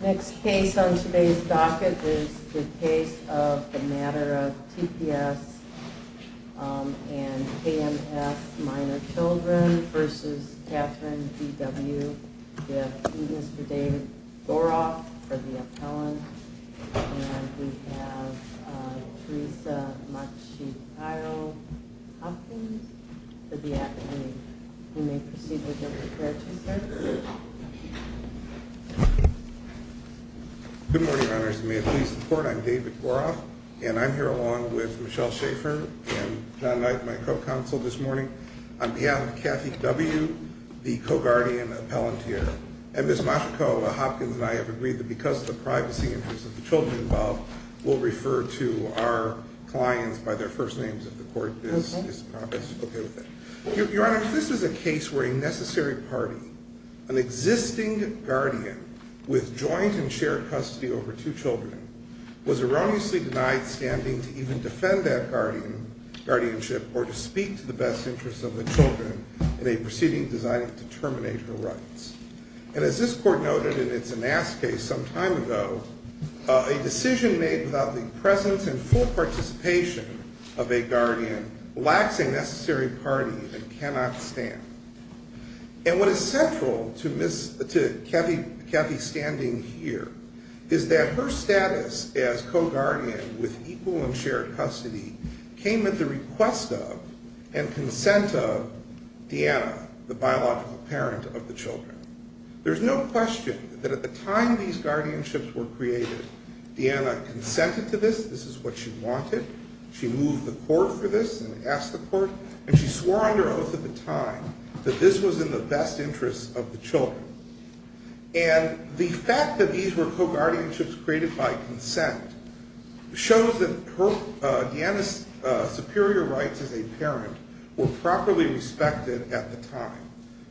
Next case on today's docket is the case of the matter of T.P.S. and K.M.S. minor children versus Katherine B.W. We have Mr. David Goroff for the appellant and we have Theresa Machiavelli-Hopkins for the appellant. You may proceed with your preparatory search. Good morning, Your Honors. May it please the Court, I'm David Goroff and I'm here along with Michelle Schaefer and John Knight, my co-counsel this morning. On behalf of Kathy W., the co-guardian appellant here, and Ms. Machiavelli-Hopkins and I have agreed that because of the privacy interests of the children involved, we'll refer to our clients by their first names if the Court is okay with that. Your Honors, this is a case where a necessary party, an existing guardian with joint and shared custody over two children, was erroneously denied standing to even defend that guardianship or to speak to the best interests of the children in a proceeding designed to terminate her rights. And as this Court noted in its Anast case some time ago, a decision made without the presence and full participation of a guardian lacks a necessary party and cannot stand. And what is central to Kathy standing here is that her status as co-guardian with equal and shared custody came at the request of and consent of Deanna, the biological parent of the children. There's no question that at the time these guardianships were created, Deanna consented to this. This is what she wanted. She moved the Court for this and asked the Court, and she swore under oath at the time that this was in the best interests of the children. And the fact that these were co-guardianships created by consent shows that Deanna's superior rights as a parent were properly respected at the time.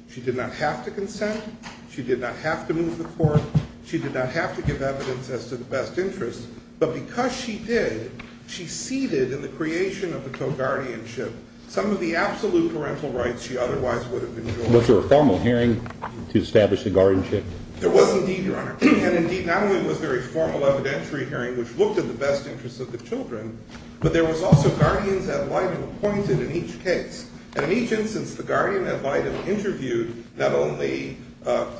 She did not have to consent. She did not have to move the Court. She did not have to give evidence as to the best interests. But because she did, she ceded in the creation of a co-guardianship some of the absolute parental rights she otherwise would have enjoyed. Was there a formal hearing to establish a guardianship? There was indeed, Your Honor. And indeed, not only was there a formal evidentiary hearing which looked at the best interests of the children, but there was also guardians at Leiden appointed in each case. And in each instance, the guardian at Leiden interviewed not only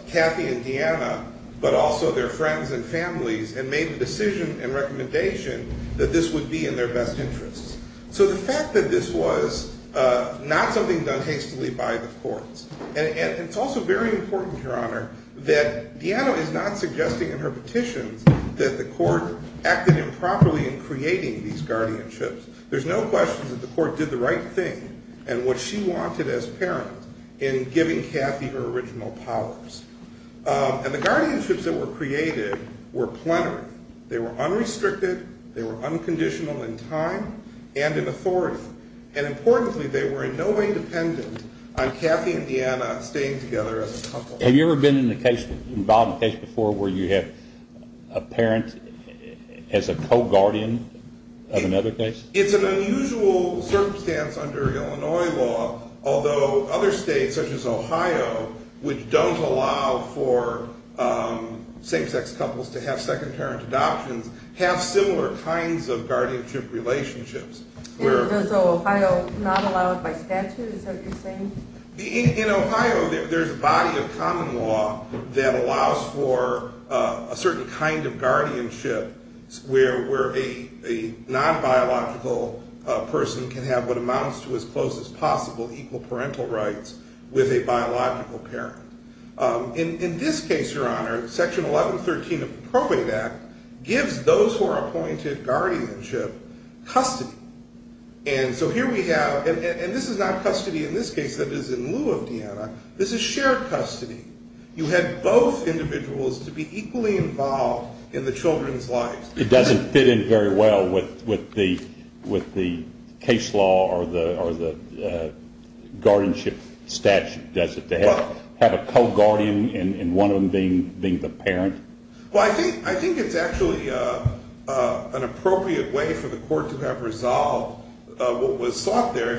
Kathy and Deanna, but also their friends and families, and made the decision and recommendation that this would be in their best interests. So the fact that this was not something done hastily by the courts, and it's also very important, Your Honor, that Deanna is not suggesting in her petitions that the Court acted improperly in creating these guardianships. There's no question that the Court did the right thing and what she wanted as parent in giving Kathy her original powers. And the guardianships that were created were plenary. They were unrestricted. They were unconditional in time and in authority. And importantly, they were in no way dependent on Kathy and Deanna staying together as a couple. Have you ever been involved in a case before where you have a parent as a co-guardian of another case? It's an unusual circumstance under Illinois law, although other states, such as Ohio, which don't allow for same-sex couples to have second-parent adoptions, have similar kinds of guardianship relationships. Does Ohio not allow it by statute, is that what you're saying? In Ohio, there's a body of common law that allows for a certain kind of guardianship where a non-biological person can have what amounts to as close as possible equal parental rights with a biological parent. In this case, Your Honor, Section 1113 of the Probate Act gives those who are appointed guardianship custody. And so here we have – and this is not custody in this case that is in lieu of Deanna. This is shared custody. You had both individuals to be equally involved in the children's lives. It doesn't fit in very well with the case law or the guardianship statute, does it, to have a co-guardian and one of them being the parent? Well, I think it's actually an appropriate way for the court to have resolved what was sought there.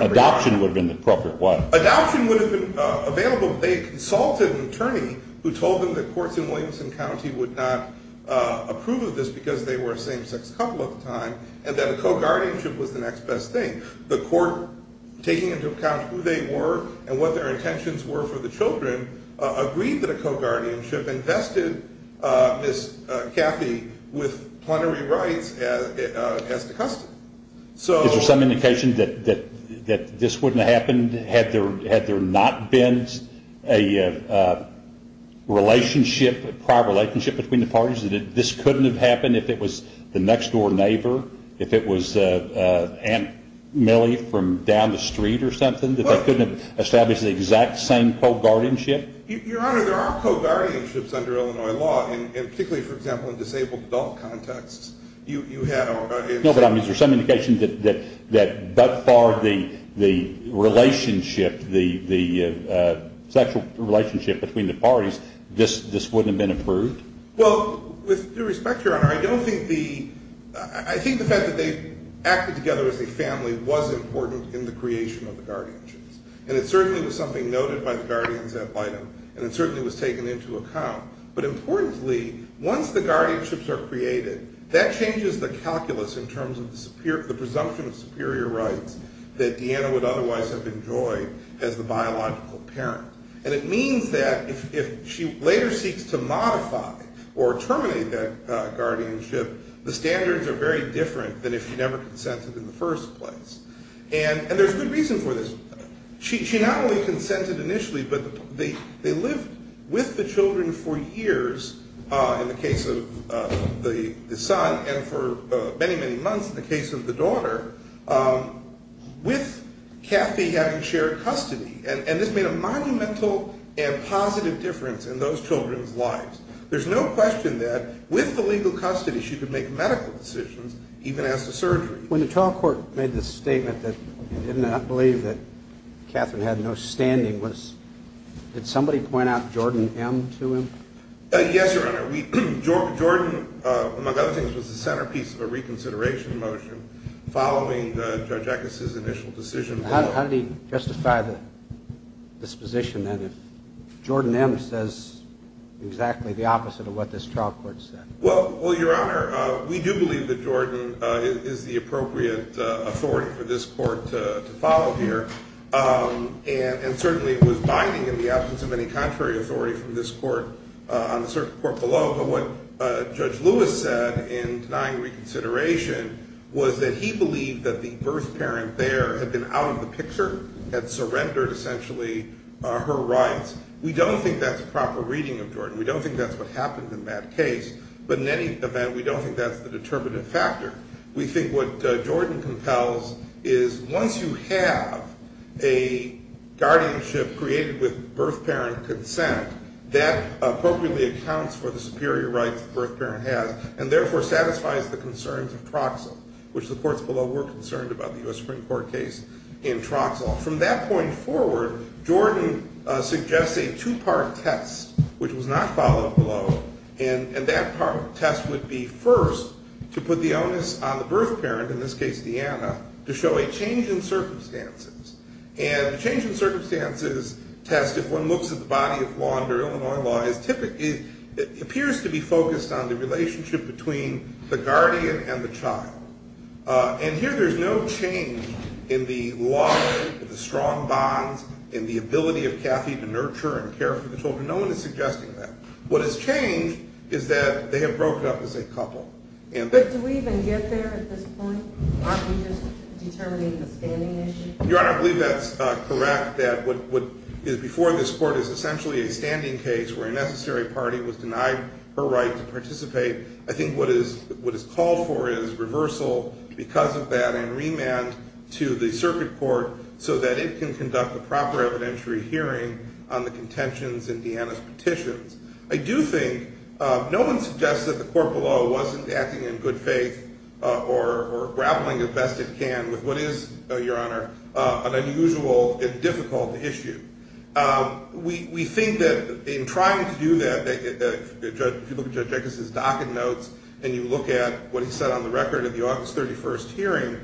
Adoption would have been the appropriate one. Adoption would have been available if they had consulted an attorney who told them that courts in Williamson County would not approve of this because they were a same-sex couple at the time and that a co-guardianship was the next best thing. The court, taking into account who they were and what their intentions were for the children, agreed that a co-guardianship invested Ms. Cathy with plenary rights as the custody. Is there some indication that this wouldn't have happened had there not been a relationship, a prior relationship between the parties, that this couldn't have happened if it was the next-door neighbor, if it was Aunt Millie from down the street or something, that they couldn't have established the exact same co-guardianship? Your Honor, there are co-guardianships under Illinois law, and particularly, for example, in disabled adult contexts. No, but I mean, is there some indication that by far the sexual relationship between the parties, this wouldn't have been approved? Well, with due respect, Your Honor, I don't think the – I think the fact that they acted together as a family was important in the creation of the guardianships. And it certainly was something noted by the guardians at Lytton, and it certainly was taken into account. But importantly, once the guardianships are created, that changes the calculus in terms of the presumption of superior rights that Deanna would otherwise have enjoyed as the biological parent. And it means that if she later seeks to modify or terminate that guardianship, the standards are very different than if she never consented in the first place. And there's good reason for this. She not only consented initially, but they lived with the children for years in the case of the son, and for many, many months in the case of the daughter, with Kathy having shared custody. And this made a monumental and positive difference in those children's lives. There's no question that with the legal custody, she could make medical decisions, even as to surgery. When the trial court made the statement that it did not believe that Kathryn had no standing, did somebody point out Jordan M. to him? Yes, Your Honor. Jordan, among other things, was the centerpiece of a reconsideration motion following Judge Eckes' initial decision. How did he justify the disposition, then, if Jordan M. says exactly the opposite of what this trial court said? Well, Your Honor, we do believe that Jordan is the appropriate authority for this court to follow here. And certainly, it was binding in the absence of any contrary authority from this court on the circuit court below. But what Judge Lewis said in denying reconsideration was that he believed that the birth parent there had been out of the picture, had surrendered, essentially, her rights. We don't think that's a proper reading of Jordan. We don't think that's what happened in that case. But in any event, we don't think that's the determinative factor. We think what Jordan compels is once you have a guardianship created with birth parent consent, that appropriately accounts for the superior rights the birth parent has, and therefore satisfies the concerns of Troxel, which the courts below were concerned about the U.S. Supreme Court case in Troxel. From that point forward, Jordan suggests a two-part test, which was not followed below. And that part of the test would be, first, to put the onus on the birth parent, in this case Deanna, to show a change in circumstances. And the change in circumstances test, if one looks at the body of law under Illinois law, appears to be focused on the relationship between the guardian and the child. And here, there's no change in the law, in the strong bonds, in the ability of Cathy to nurture and care for the children. No one is suggesting that. What has changed is that they have broken up as a couple. But do we even get there at this point? Aren't we just determining the standing issue? Your Honor, I believe that's correct, that what is before this court is essentially a standing case where a necessary party was denied her right to participate. I think what is called for is reversal because of that and remand to the circuit court so that it can conduct a proper evidentiary hearing on the contentions in Deanna's petitions. I do think no one suggests that the court below wasn't acting in good faith or grappling as best it can with what is, Your Honor, an unusual and difficult issue. We think that in trying to do that, if you look at Judge Eckes' docket notes and you look at what he said on the record of the August 31st hearing,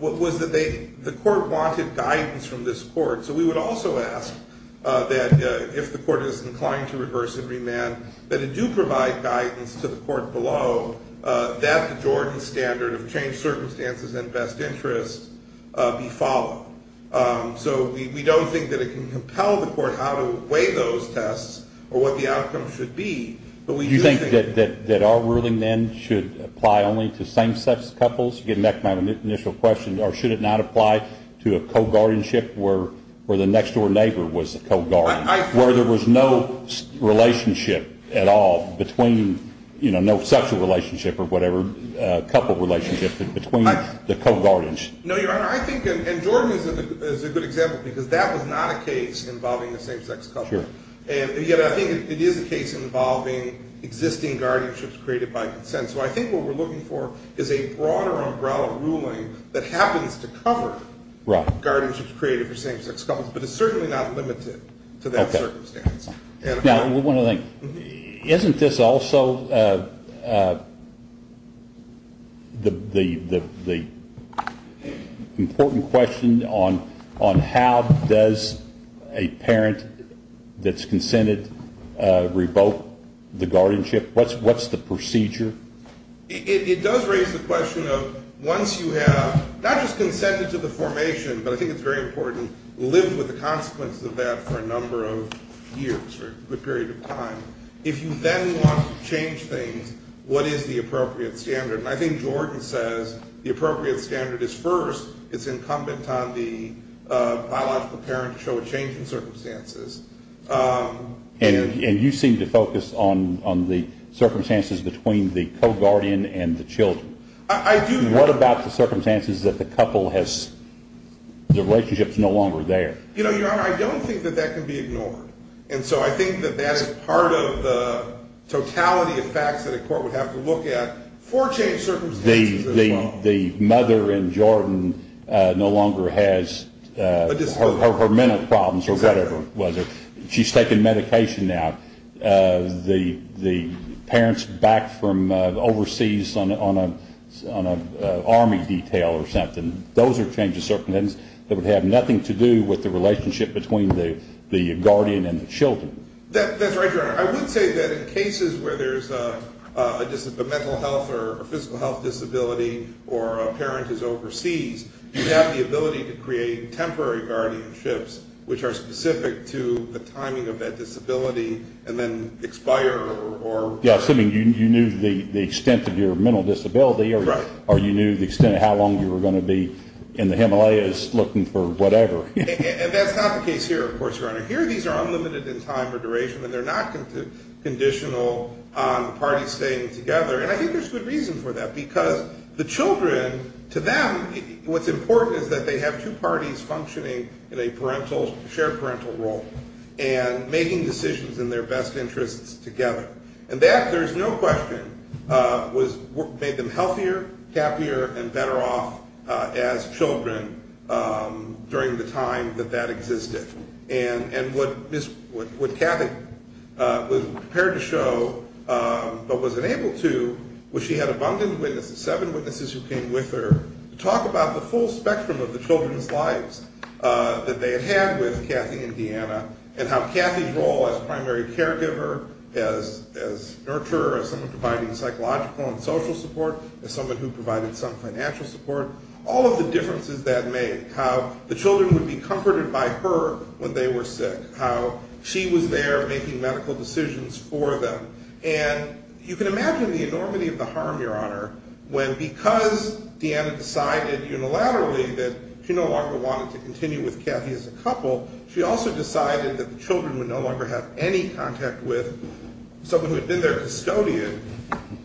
was that the court wanted guidance from this court. So we would also ask that if the court is inclined to reverse and remand, that it do provide guidance to the court below that the Jordan standard of changed circumstances and best interests be followed. So we don't think that it can compel the court how to weigh those tests or what the outcome should be. Do you think that our ruling then should apply only to same-sex couples? Getting back to my initial question, or should it not apply to a co-guardianship where the next-door neighbor was a co-guardian, where there was no relationship at all between, you know, no sexual relationship or whatever, couple relationship between the co-guardians? No, Your Honor, I think, and Jordan is a good example, because that was not a case involving a same-sex couple. And yet I think it is a case involving existing guardianships created by consent. So I think what we're looking for is a broader umbrella ruling that happens to cover guardianships created for same-sex couples, but it's certainly not limited to that circumstance. Now, we want to think, isn't this also the important question on how does a parent that's consented revoke the guardianship? What's the procedure? It does raise the question of once you have not just consented to the formation, but I think it's very important, lived with the consequences of that for a number of years or a good period of time, if you then want to change things, what is the appropriate standard? And I think Jordan says the appropriate standard is first, it's incumbent on the biological parent to show a change in circumstances. And you seem to focus on the circumstances between the co-guardian and the children. I do, Your Honor. What about the circumstances that the couple has, the relationship's no longer there? You know, Your Honor, I don't think that that can be ignored. And so I think that that is part of the totality of facts that a court would have to look at for changed circumstances as well. The mother in Jordan no longer has her mental problems or whatever it was. She's taking medication now. The parents back from overseas on an army detail or something, those are changes, circumstances that would have nothing to do with the relationship between the guardian and the children. That's right, Your Honor. I would say that in cases where there's a mental health or physical health disability or a parent is overseas, you have the ability to create temporary guardianships, which are specific to the timing of that disability, and then expire. Yeah, assuming you knew the extent of your mental disability or you knew the extent of how long you were going to be in the Himalayas looking for whatever. And that's not the case here, of course, Your Honor. Here these are unlimited in time or duration, and they're not conditional on the parties staying together. And I think there's good reason for that, because the children, to them, what's important is that they have two parties functioning in a shared parental role and making decisions in their best interests together. And that, there's no question, made them healthier, happier, and better off as children during the time that that existed. And what Kathy was prepared to show but was unable to was she had abundant witnesses, seven witnesses who came with her, to talk about the full spectrum of the children's lives that they had had with Kathy and Deanna and how Kathy's role as primary caregiver, as nurturer, as someone providing psychological and social support, as someone who provided some financial support, all of the differences that made, how the children would be comforted by her when they were sick, how she was there making medical decisions for them. And you can imagine the enormity of the harm, Your Honor, when because Deanna decided unilaterally that she no longer wanted to continue with Kathy as a couple, she also decided that the children would no longer have any contact with someone who had been their custodian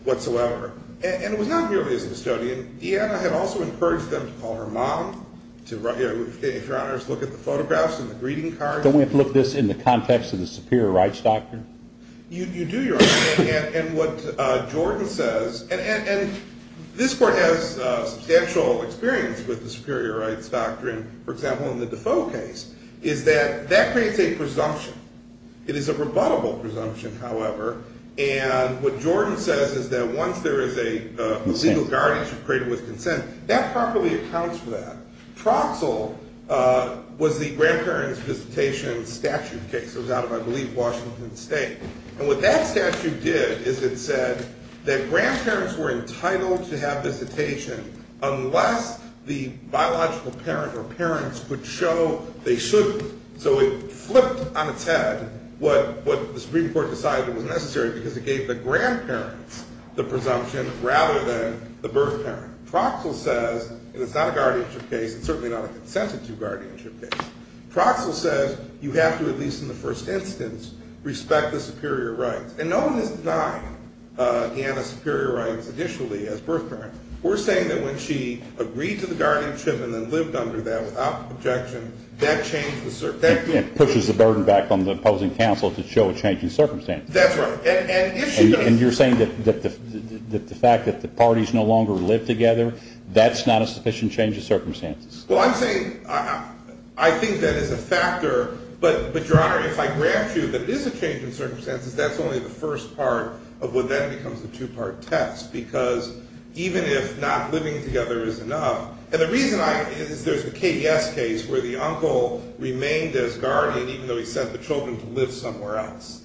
whatsoever. And it was not merely as a custodian. Deanna had also encouraged them to call her mom, to, Your Honor, look at the photographs and the greeting cards. Don't we have to look at this in the context of the Superior Rights Doctrine? You do, Your Honor. And what Jordan says, and this Court has substantial experience with the Superior Rights Doctrine, for example, in the Defoe case, is that that creates a presumption. It is a rebuttable presumption, however. And what Jordan says is that once there is a legal guardianship created with consent, that properly accounts for that. Troxel was the grandparents' visitation statute case. It was out of, I believe, Washington State. And what that statute did is it said that grandparents were entitled to have visitation unless the biological parent or parents could show they should. So it flipped on its head what the Supreme Court decided was necessary because it gave the grandparents the presumption rather than the birth parent. Troxel says, and it's not a guardianship case, it's certainly not a consensitive guardianship case, Troxel says you have to, at least in the first instance, respect the superior rights. And no one has denied Deanna's superior rights initially as birth parent. We're saying that when she agreed to the guardianship and then lived under that without objection, that changed the circumstance. It pushes the burden back on the opposing counsel to show a change in circumstances. That's right. And you're saying that the fact that the parties no longer live together, that's not a sufficient change of circumstances? Well, I'm saying I think that is a factor. But, Your Honor, if I grant you that it is a change in circumstances, that's only the first part of what then becomes the two-part test. Because even if not living together is enough, and the reason is there's a KDS case where the uncle remained as guardian even though he sent the children to live somewhere else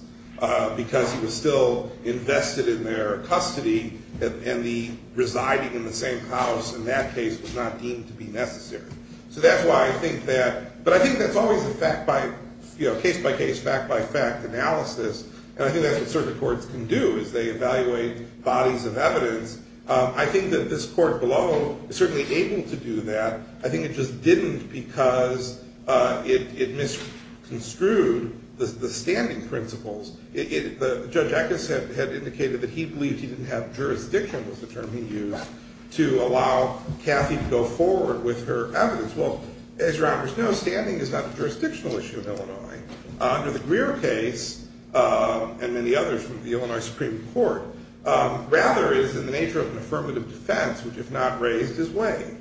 because he was still invested in their custody and the residing in the same house in that case was not deemed to be necessary. So that's why I think that, but I think that's always a case-by-case, fact-by-fact analysis, and I think that's what certain courts can do is they evaluate bodies of evidence. I think that this court below is certainly able to do that. I think it just didn't because it misconstrued the standing principles. Judge Eckes had indicated that he believed he didn't have jurisdiction, was the term he used, to allow Cathy to go forward with her evidence. Well, as Your Honors know, standing is not a jurisdictional issue in Illinois. Under the Greer case, and many others from the Illinois Supreme Court, rather it is in the nature of an affirmative defense which, if not raised, is waived.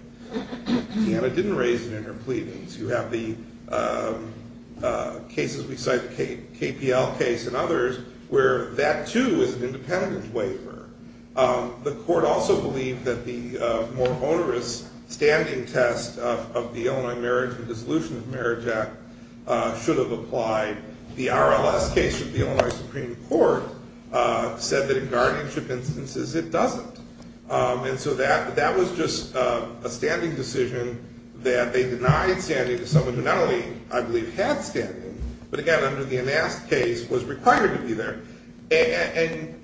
And it didn't raise it in her pleadings. You have the cases we cite, the KPL case and others, where that, too, is an independent waiver. The court also believed that the more onerous standing test of the Illinois Marriage and Dissolution of Marriage Act should have applied. The RLS case of the Illinois Supreme Court said that in guardianship instances it doesn't. And so that was just a standing decision that they denied standing to someone who not only, I believe, had standing, but again, under the Anast case, was required to be there. And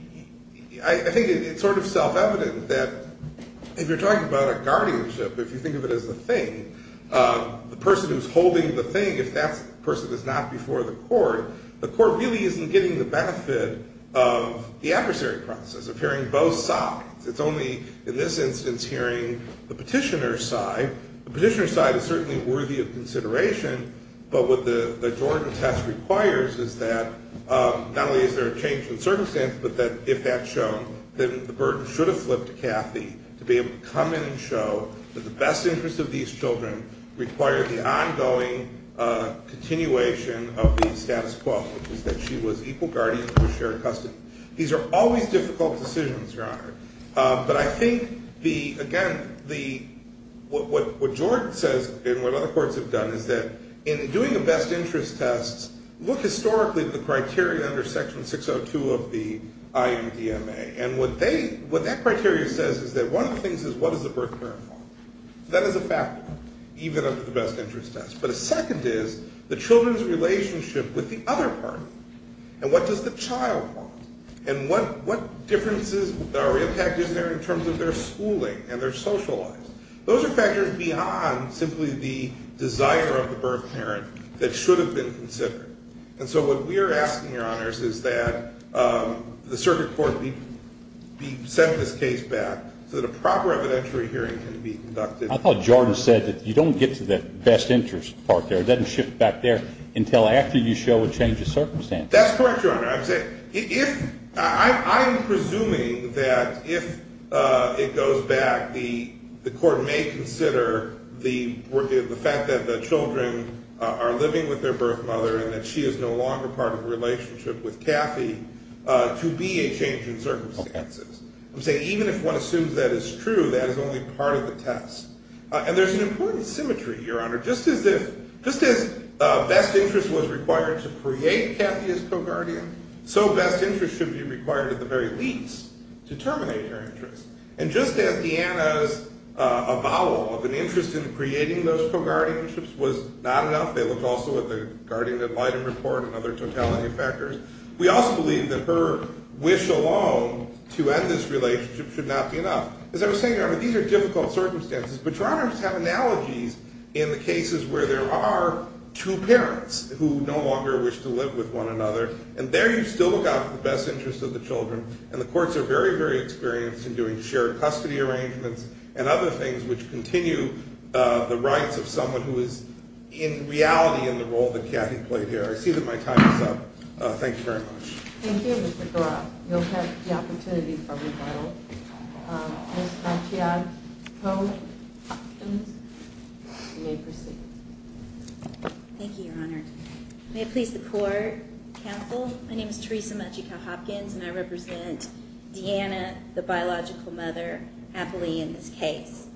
I think it's sort of self-evident that if you're talking about a guardianship, if you think of it as a thing, the person who's holding the thing, if that person is not before the court, the court really isn't getting the benefit of the adversary process, of hearing both sides. It's only in this instance hearing the petitioner's side. The petitioner's side is certainly worthy of consideration, but what the Jordan test requires is that not only is there a change in circumstance, but that if that's shown, then the burden should have flipped to Cathy to be able to come in and show that the best interest of these children require the ongoing continuation of the status quo, which is that she was equal guardian and was shared custody. These are always difficult decisions, Your Honor. But I think, again, what Jordan says and what other courts have done is that in doing a best interest test, look historically at the criteria under Section 602 of the IMDMA. And what that criteria says is that one of the things is what does the birth parent want? That is a factor, even under the best interest test. But a second is the children's relationship with the other party. And what does the child want? And what differences or impact is there in terms of their schooling and their social lives? Those are factors beyond simply the desire of the birth parent that should have been considered. And so what we are asking, Your Honors, is that the circuit court be sent this case back so that a proper evidentiary hearing can be conducted. I thought Jordan said that you don't get to the best interest part there. It doesn't shift back there until after you show a change of circumstance. That's correct, Your Honor. I'm presuming that if it goes back, the court may consider the fact that the children are living with their birth mother and that she is no longer part of a relationship with Kathy to be a change in circumstances. I'm saying even if one assumes that is true, that is only part of the test. And there's an important symmetry, Your Honor. Just as best interest was required to create Kathy as co-guardian, so best interest should be required at the very least to terminate her interest. And just as Deanna's avowal of an interest in creating those co-guardianships was not enough, they looked also at the guardian ad litem report and other totality factors, we also believe that her wish alone to end this relationship should not be enough. As I was saying, Your Honor, these are difficult circumstances, but Your Honors have analogies in the cases where there are two parents who no longer wish to live with one another, and there you still look out for the best interest of the children, and the courts are very, very experienced in doing shared custody arrangements and other things which continue the rights of someone who is in reality in the role that Kathy played here. I see that my time is up. Thank you very much. Thank you, Mr. Goroff. You'll have the opportunity for rebuttal. Ms. Machiach-Hopkins, you may proceed. Thank you, Your Honor. May it please the court, counsel, my name is Theresa Machiach-Hopkins, and I represent Deanna, the biological mother, happily in this case.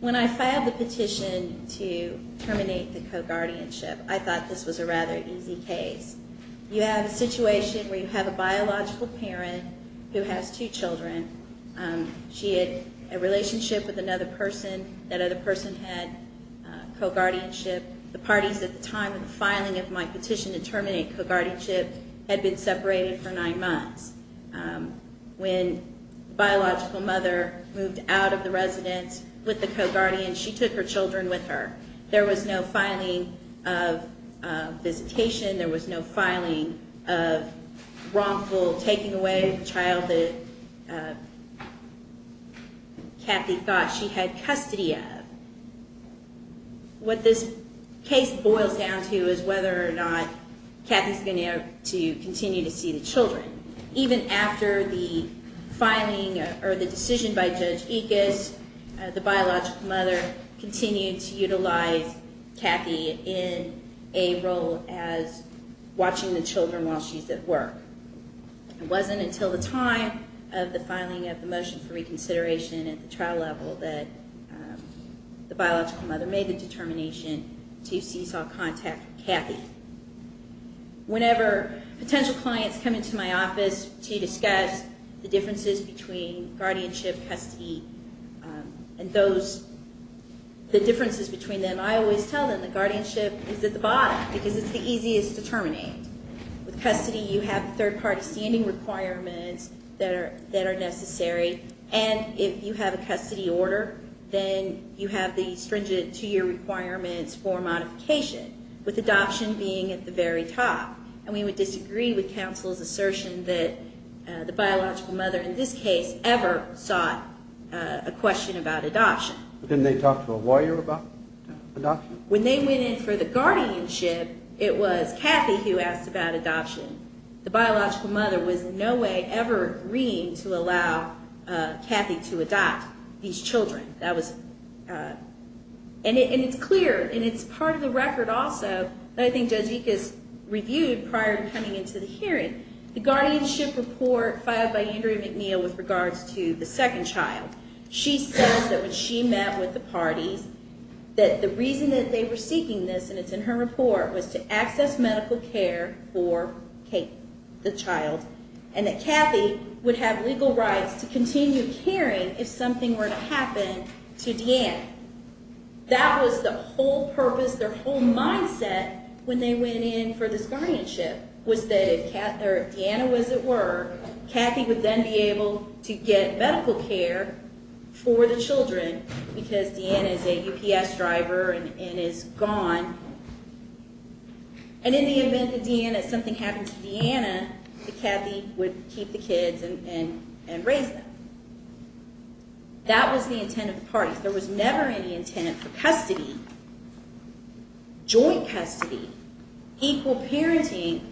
When I filed the petition to terminate the co-guardianship, I thought this was a rather easy case. You have a situation where you have a biological parent who has two children. She had a relationship with another person. That other person had co-guardianship. The parties at the time of the filing of my petition to terminate co-guardianship had been separated for nine months. When the biological mother moved out of the residence with the co-guardian, she took her children with her. There was no filing of visitation. There was no filing of wrongful taking away of the child that Kathy thought she had custody of. What this case boils down to is whether or not Kathy is going to continue to see the children. Even after the filing or the decision by Judge Ickes, the biological mother continued to utilize Kathy in a role as watching the children while she's at work. It wasn't until the time of the filing of the motion for reconsideration at the trial level that the biological mother made the determination to cease all contact with Kathy. Whenever potential clients come into my office to discuss the differences between guardianship, custody, and the differences between them, I always tell them that guardianship is at the bottom because it's the easiest to terminate. With custody, you have third-party standing requirements that are necessary. And if you have a custody order, then you have the stringent two-year requirements for modification, with adoption being at the very top. And we would disagree with counsel's assertion that the biological mother in this case ever sought a question about adoption. Didn't they talk to a lawyer about adoption? When they went in for the guardianship, it was Kathy who asked about adoption. The biological mother was in no way ever agreeing to allow Kathy to adopt these children. And it's clear, and it's part of the record also that I think Judge Ickes reviewed prior to coming into the hearing. The guardianship report filed by Andrea McNeil with regards to the second child, she says that when she met with the parties, that the reason that they were seeking this, and it's in her report, was to access medical care for the child, and that Kathy would have legal rights to continue caring if something were to happen to Deanna. That was the whole purpose, their whole mindset when they went in for this guardianship, was that if Deanna was at work, Kathy would then be able to get medical care for the children, because Deanna is a UPS driver and is gone. And in the event that something happened to Deanna, that Kathy would keep the kids and raise them. And it turns out that there was never any intent for custody, joint custody, equal parenting.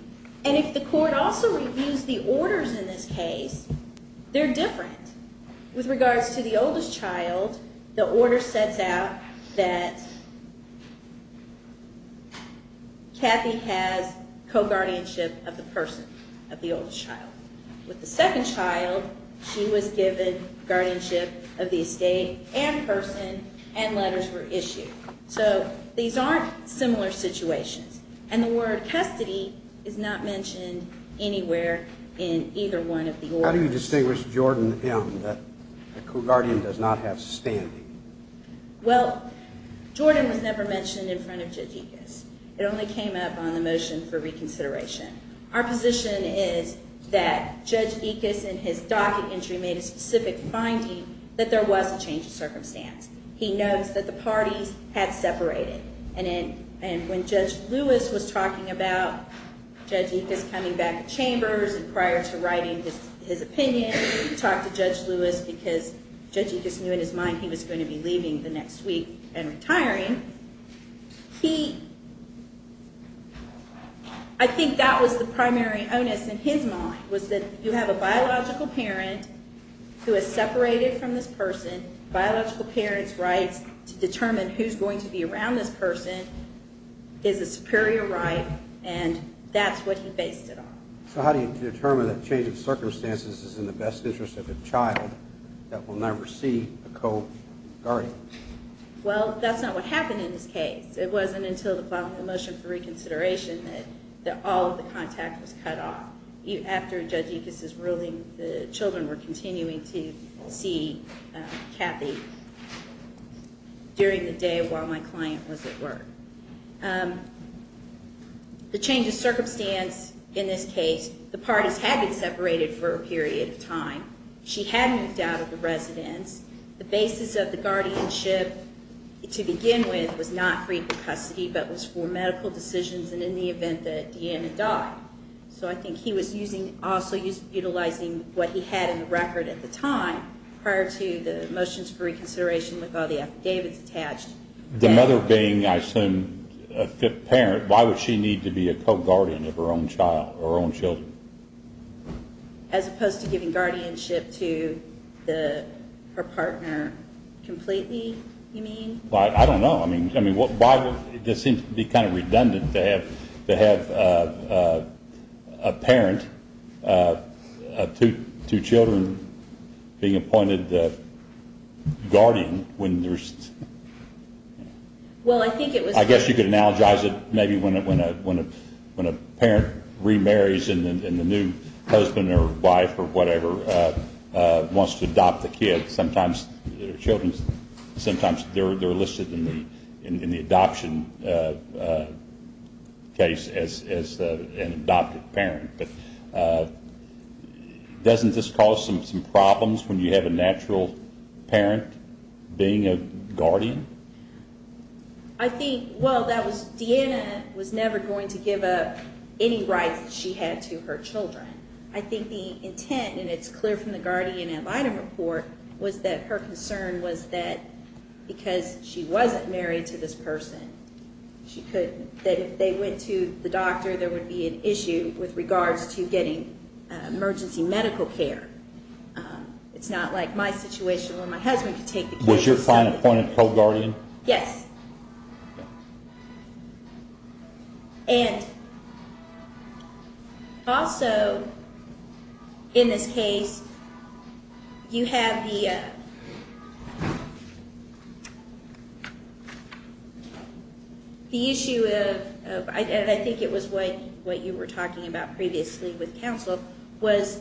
And if the court also reviews the orders in this case, they're different. With regards to the oldest child, the order sets out that Kathy has co-guardianship of the person, of the oldest child. With the second child, she was given guardianship of the estate and person, and letters were issued. So these aren't similar situations. And the word custody is not mentioned anywhere in either one of the orders. How do you distinguish Jordan and him, that a co-guardian does not have standing? Well, Jordan was never mentioned in front of Jitikis. It only came up on the motion for reconsideration. Our position is that Jitikis, in his docket entry, made a specific finding that there was a change of circumstance. He knows that the parties had separated. And when Judge Lewis was talking about Jitikis coming back to Chambers and prior to writing his opinion, he talked to Judge Lewis because Jitikis knew in his mind he was going to be leaving the next week and retiring. He... I think that was the primary onus in his mind, was that you have a biological parent who is separated from this person. Biological parents' rights to determine who's going to be around this person is a superior right, and that's what he based it on. So how do you determine that change of circumstances is in the best interest of a child that will never see a co-guardian? Well, that's not what happened in this case. It wasn't until the following motion for reconsideration that all of the contact was cut off. After Judge Jitikis' ruling, the children were continuing to see Kathy during the day while my client was at work. The change of circumstance in this case, the parties had been separated for a period of time. She had moved out of the residence. The basis of the guardianship to begin with was not free from custody but was for medical decisions and in the event that Deanna died. So I think he was also utilizing what he had in the record at the time prior to the motions for reconsideration with all the affidavits attached. The mother being, I assume, a parent, why would she need to be a co-guardian of her own child, her own children? As opposed to giving guardianship to her partner completely, you mean? I don't know. It just seems to be kind of redundant to have a parent of two children being appointed guardian when there's... Well, I think it was... I guess you could analogize it maybe when a parent remarries and the new husband or wife or whatever wants to adopt the kid. Sometimes their children, sometimes they're listed in the adoption case as an adopted parent. But doesn't this cause some problems when you have a natural parent being a guardian? I think, well, Deanna was never going to give up any rights she had to her children. I think the intent, and it's clear from the guardian ad litem report, was that her concern was that because she wasn't married to this person, that if they went to the doctor, there would be an issue with regards to getting emergency medical care. It's not like my situation where my husband could take the kid. Was your client appointed co-guardian? Yes. And also, in this case, you have the issue of, and I think it was what you were talking about previously with counsel, was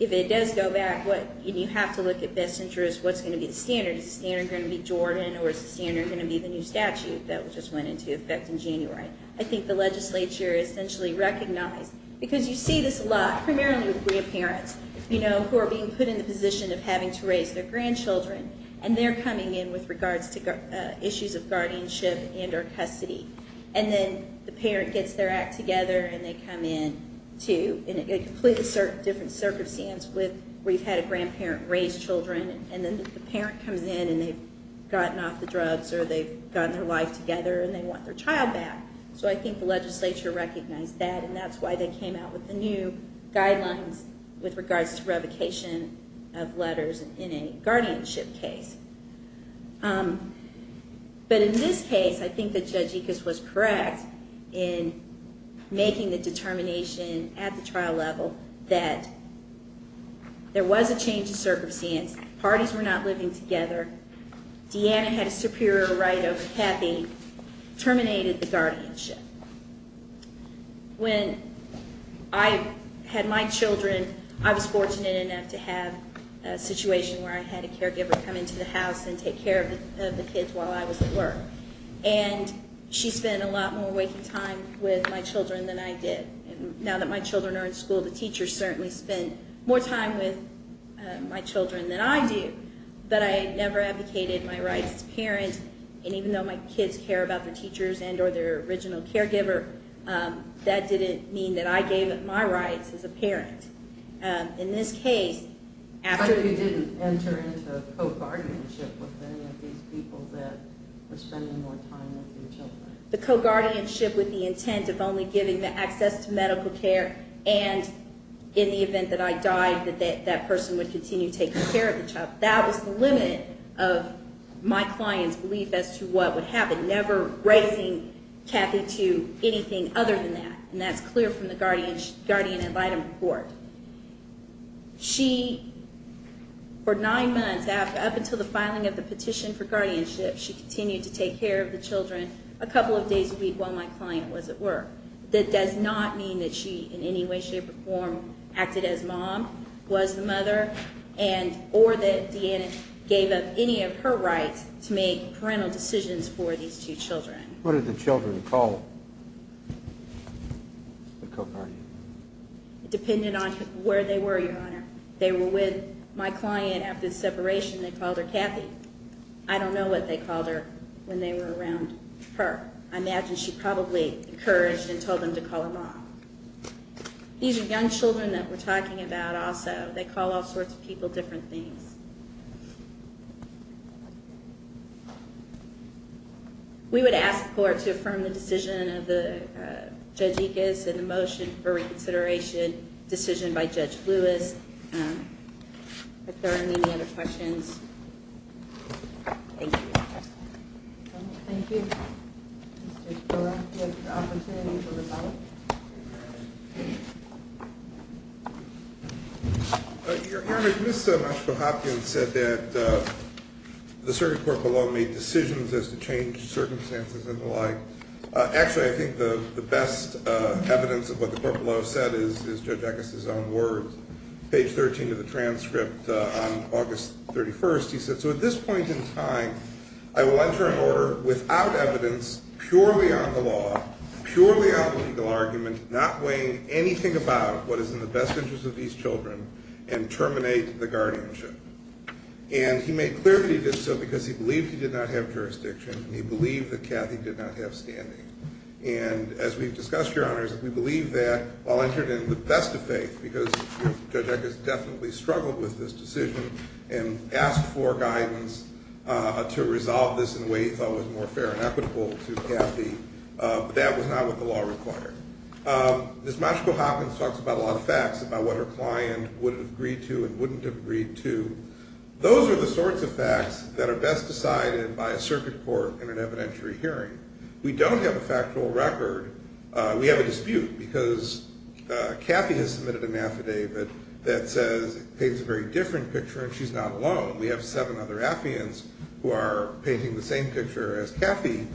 if it does go back, you have to look at best interest. What's going to be the standard? Is the standard going to be Jordan, or is the standard going to be the new statute that just went into effect in January? I think the legislature essentially recognized, because you see this a lot, primarily with grandparents, who are being put in the position of having to raise their grandchildren, and they're coming in with regards to issues of guardianship and or custody. And then the parent gets their act together, and they come in, too, in a completely different circumstance where you've had a grandparent raise children, and then the parent comes in, and they've gotten off the drugs, or they've gotten their life together, and they want their child back. So I think the legislature recognized that, and that's why they came out with the new guidelines with regards to revocation of letters in a guardianship case. But in this case, I think that Judge Ickes was correct in making the determination at the trial level that there was a change in circumstance. Parties were not living together. Deanna had a superior right over Kathy. Terminated the guardianship. When I had my children, I was fortunate enough to have a situation where I had a caregiver come into the house and take care of the kids while I was at work. And she spent a lot more waking time with my children than I did. And now that my children are in school, the teachers certainly spend more time with my children than I do. But I never advocated my rights as a parent. And even though my kids care about their teachers and or their original caregiver, that didn't mean that I gave up my rights as a parent. In this case, after... But you didn't enter into co-guardianship with any of these people that were spending more time with your children. The co-guardianship with the intent of only giving the access to medical care and in the event that I died, that that person would continue taking care of the child, that was the limit of my client's belief as to what would happen, never raising Kathy to anything other than that. And that's clear from the guardian ad litem report. She, for nine months, up until the filing of the petition for guardianship, she continued to take care of the children a couple of days a week while my client was at work. That does not mean that she in any way, shape, or form acted as mom, was the mother, or that Deanna gave up any of her rights to make parental decisions for these two children. What did the children call the co-guardian? It depended on where they were, Your Honor. They were with my client after the separation. They called her Kathy. I don't know what they called her when they were around her. I imagine she probably encouraged and told them to call her mom. These are young children that we're talking about also. They call all sorts of people different things. We would ask the Court to affirm the decision of Judge Ickes and the motion for reconsideration decision by Judge Lewis. If there are any other questions. Thank you. Thank you, Mr. Spiller. We have the opportunity for rebuttal. Your Honor, Ms. Maxwell-Hopkins said that the circuit court below made decisions as to change circumstances and the like. Actually, I think the best evidence of what the court below said is Judge Ickes' own words. Page 13 of the transcript on August 31st, he said, so at this point in time, I will enter an order without evidence, purely on the law, purely on the legal argument, not weighing anything about what is in the best interest of these children, and terminate the guardianship. And he made clear that he did so because he believed he did not have jurisdiction and he believed that Cathy did not have standing. And as we've discussed, Your Honors, we believe that while entering it with the best of faith, because Judge Ickes definitely struggled with this decision and asked for guidance to resolve this in a way he thought was more fair and equitable to Cathy, but that was not what the law required. Ms. Maxwell-Hopkins talks about a lot of facts, about what her client would have agreed to and wouldn't have agreed to. Those are the sorts of facts that are best decided by a circuit court in an evidentiary hearing. We don't have a factual record. We have a dispute because Cathy has submitted an affidavit that says it paints a very different picture, and she's not alone. We have seven other affiants who are painting the same picture as Cathy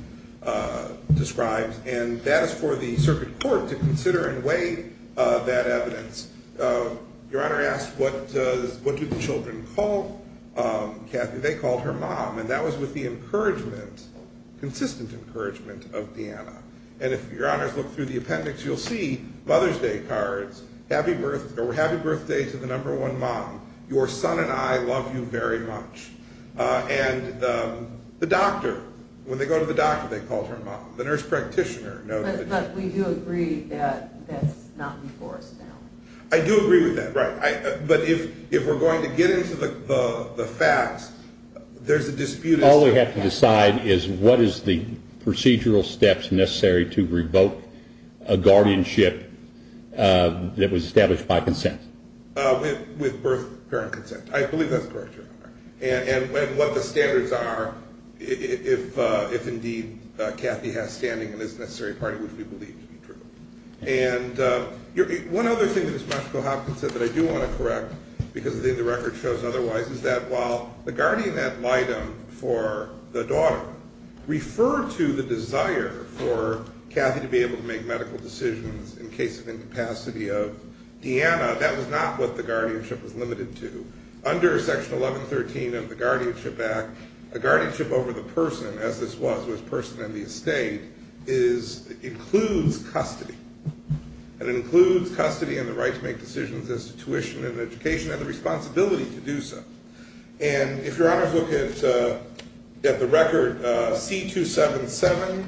described, and that is for the circuit court to consider and weigh that evidence. Your Honor asked what do the children call Cathy. They called her mom, and that was with the encouragement, consistent encouragement of Deanna. And if Your Honors look through the appendix, you'll see Mother's Day cards, happy birthday to the number one mom. Your son and I love you very much. And the doctor, when they go to the doctor, they call her mom. The nurse practitioner. But we do agree that that's not before us now. I do agree with that, right. But if we're going to get into the facts, there's a dispute. All we have to decide is what is the procedural steps necessary to revoke a guardianship that was established by consent. With birth parent consent. I believe that's correct, Your Honor. And what the standards are if indeed Cathy has standing in this necessary party, which we believe to be true. And one other thing that Ms. Mashko-Hopkins said that I do want to correct, because the record shows otherwise, is that while the guardian ad litem for the daughter referred to the desire for Cathy to be able to make medical decisions in case of incapacity of Deanna, that was not what the guardianship was limited to. Under Section 1113 of the Guardianship Act, a guardianship over the person, as this was with the person in the estate, includes custody. It includes custody and the right to make decisions as to tuition and education and the responsibility to do so. And if Your Honors look at the record, C-277,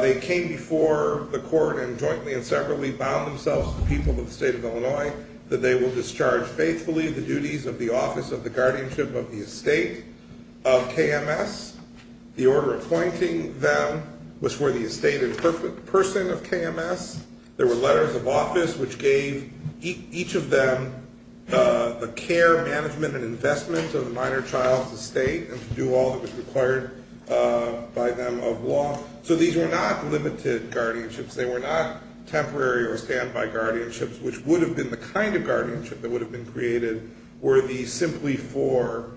they came before the court and jointly and separately bound themselves to the people of the state of Illinois that they will discharge faithfully the duties of the office of the guardianship of the estate of KMS. The order appointing them was for the estate and person of KMS. There were letters of office which gave each of them the care, management, and investment of the minor child's estate and to do all that was required by them of law. So these were not limited guardianships. They were not temporary or standby guardianships, which would have been the kind of guardianship that would have been created were these simply for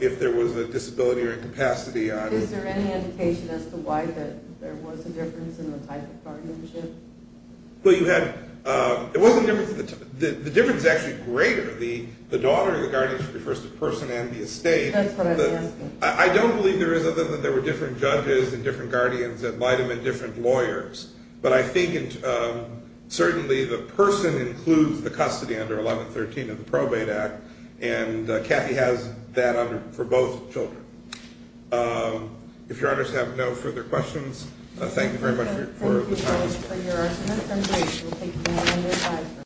if there was a disability or incapacity. Is there any indication as to why there was a difference in the type of guardianship? Well, you had, it wasn't, the difference is actually greater. The daughter of the guardianship refers to the person and the estate. That's what I'm asking. I don't believe there is other than there were different judges and different guardians that might have been different lawyers. But I think certainly the person includes the custody under 1113 of the Probate Act, and Kathy has that for both children. If your honors have no further questions, thank you very much for the time.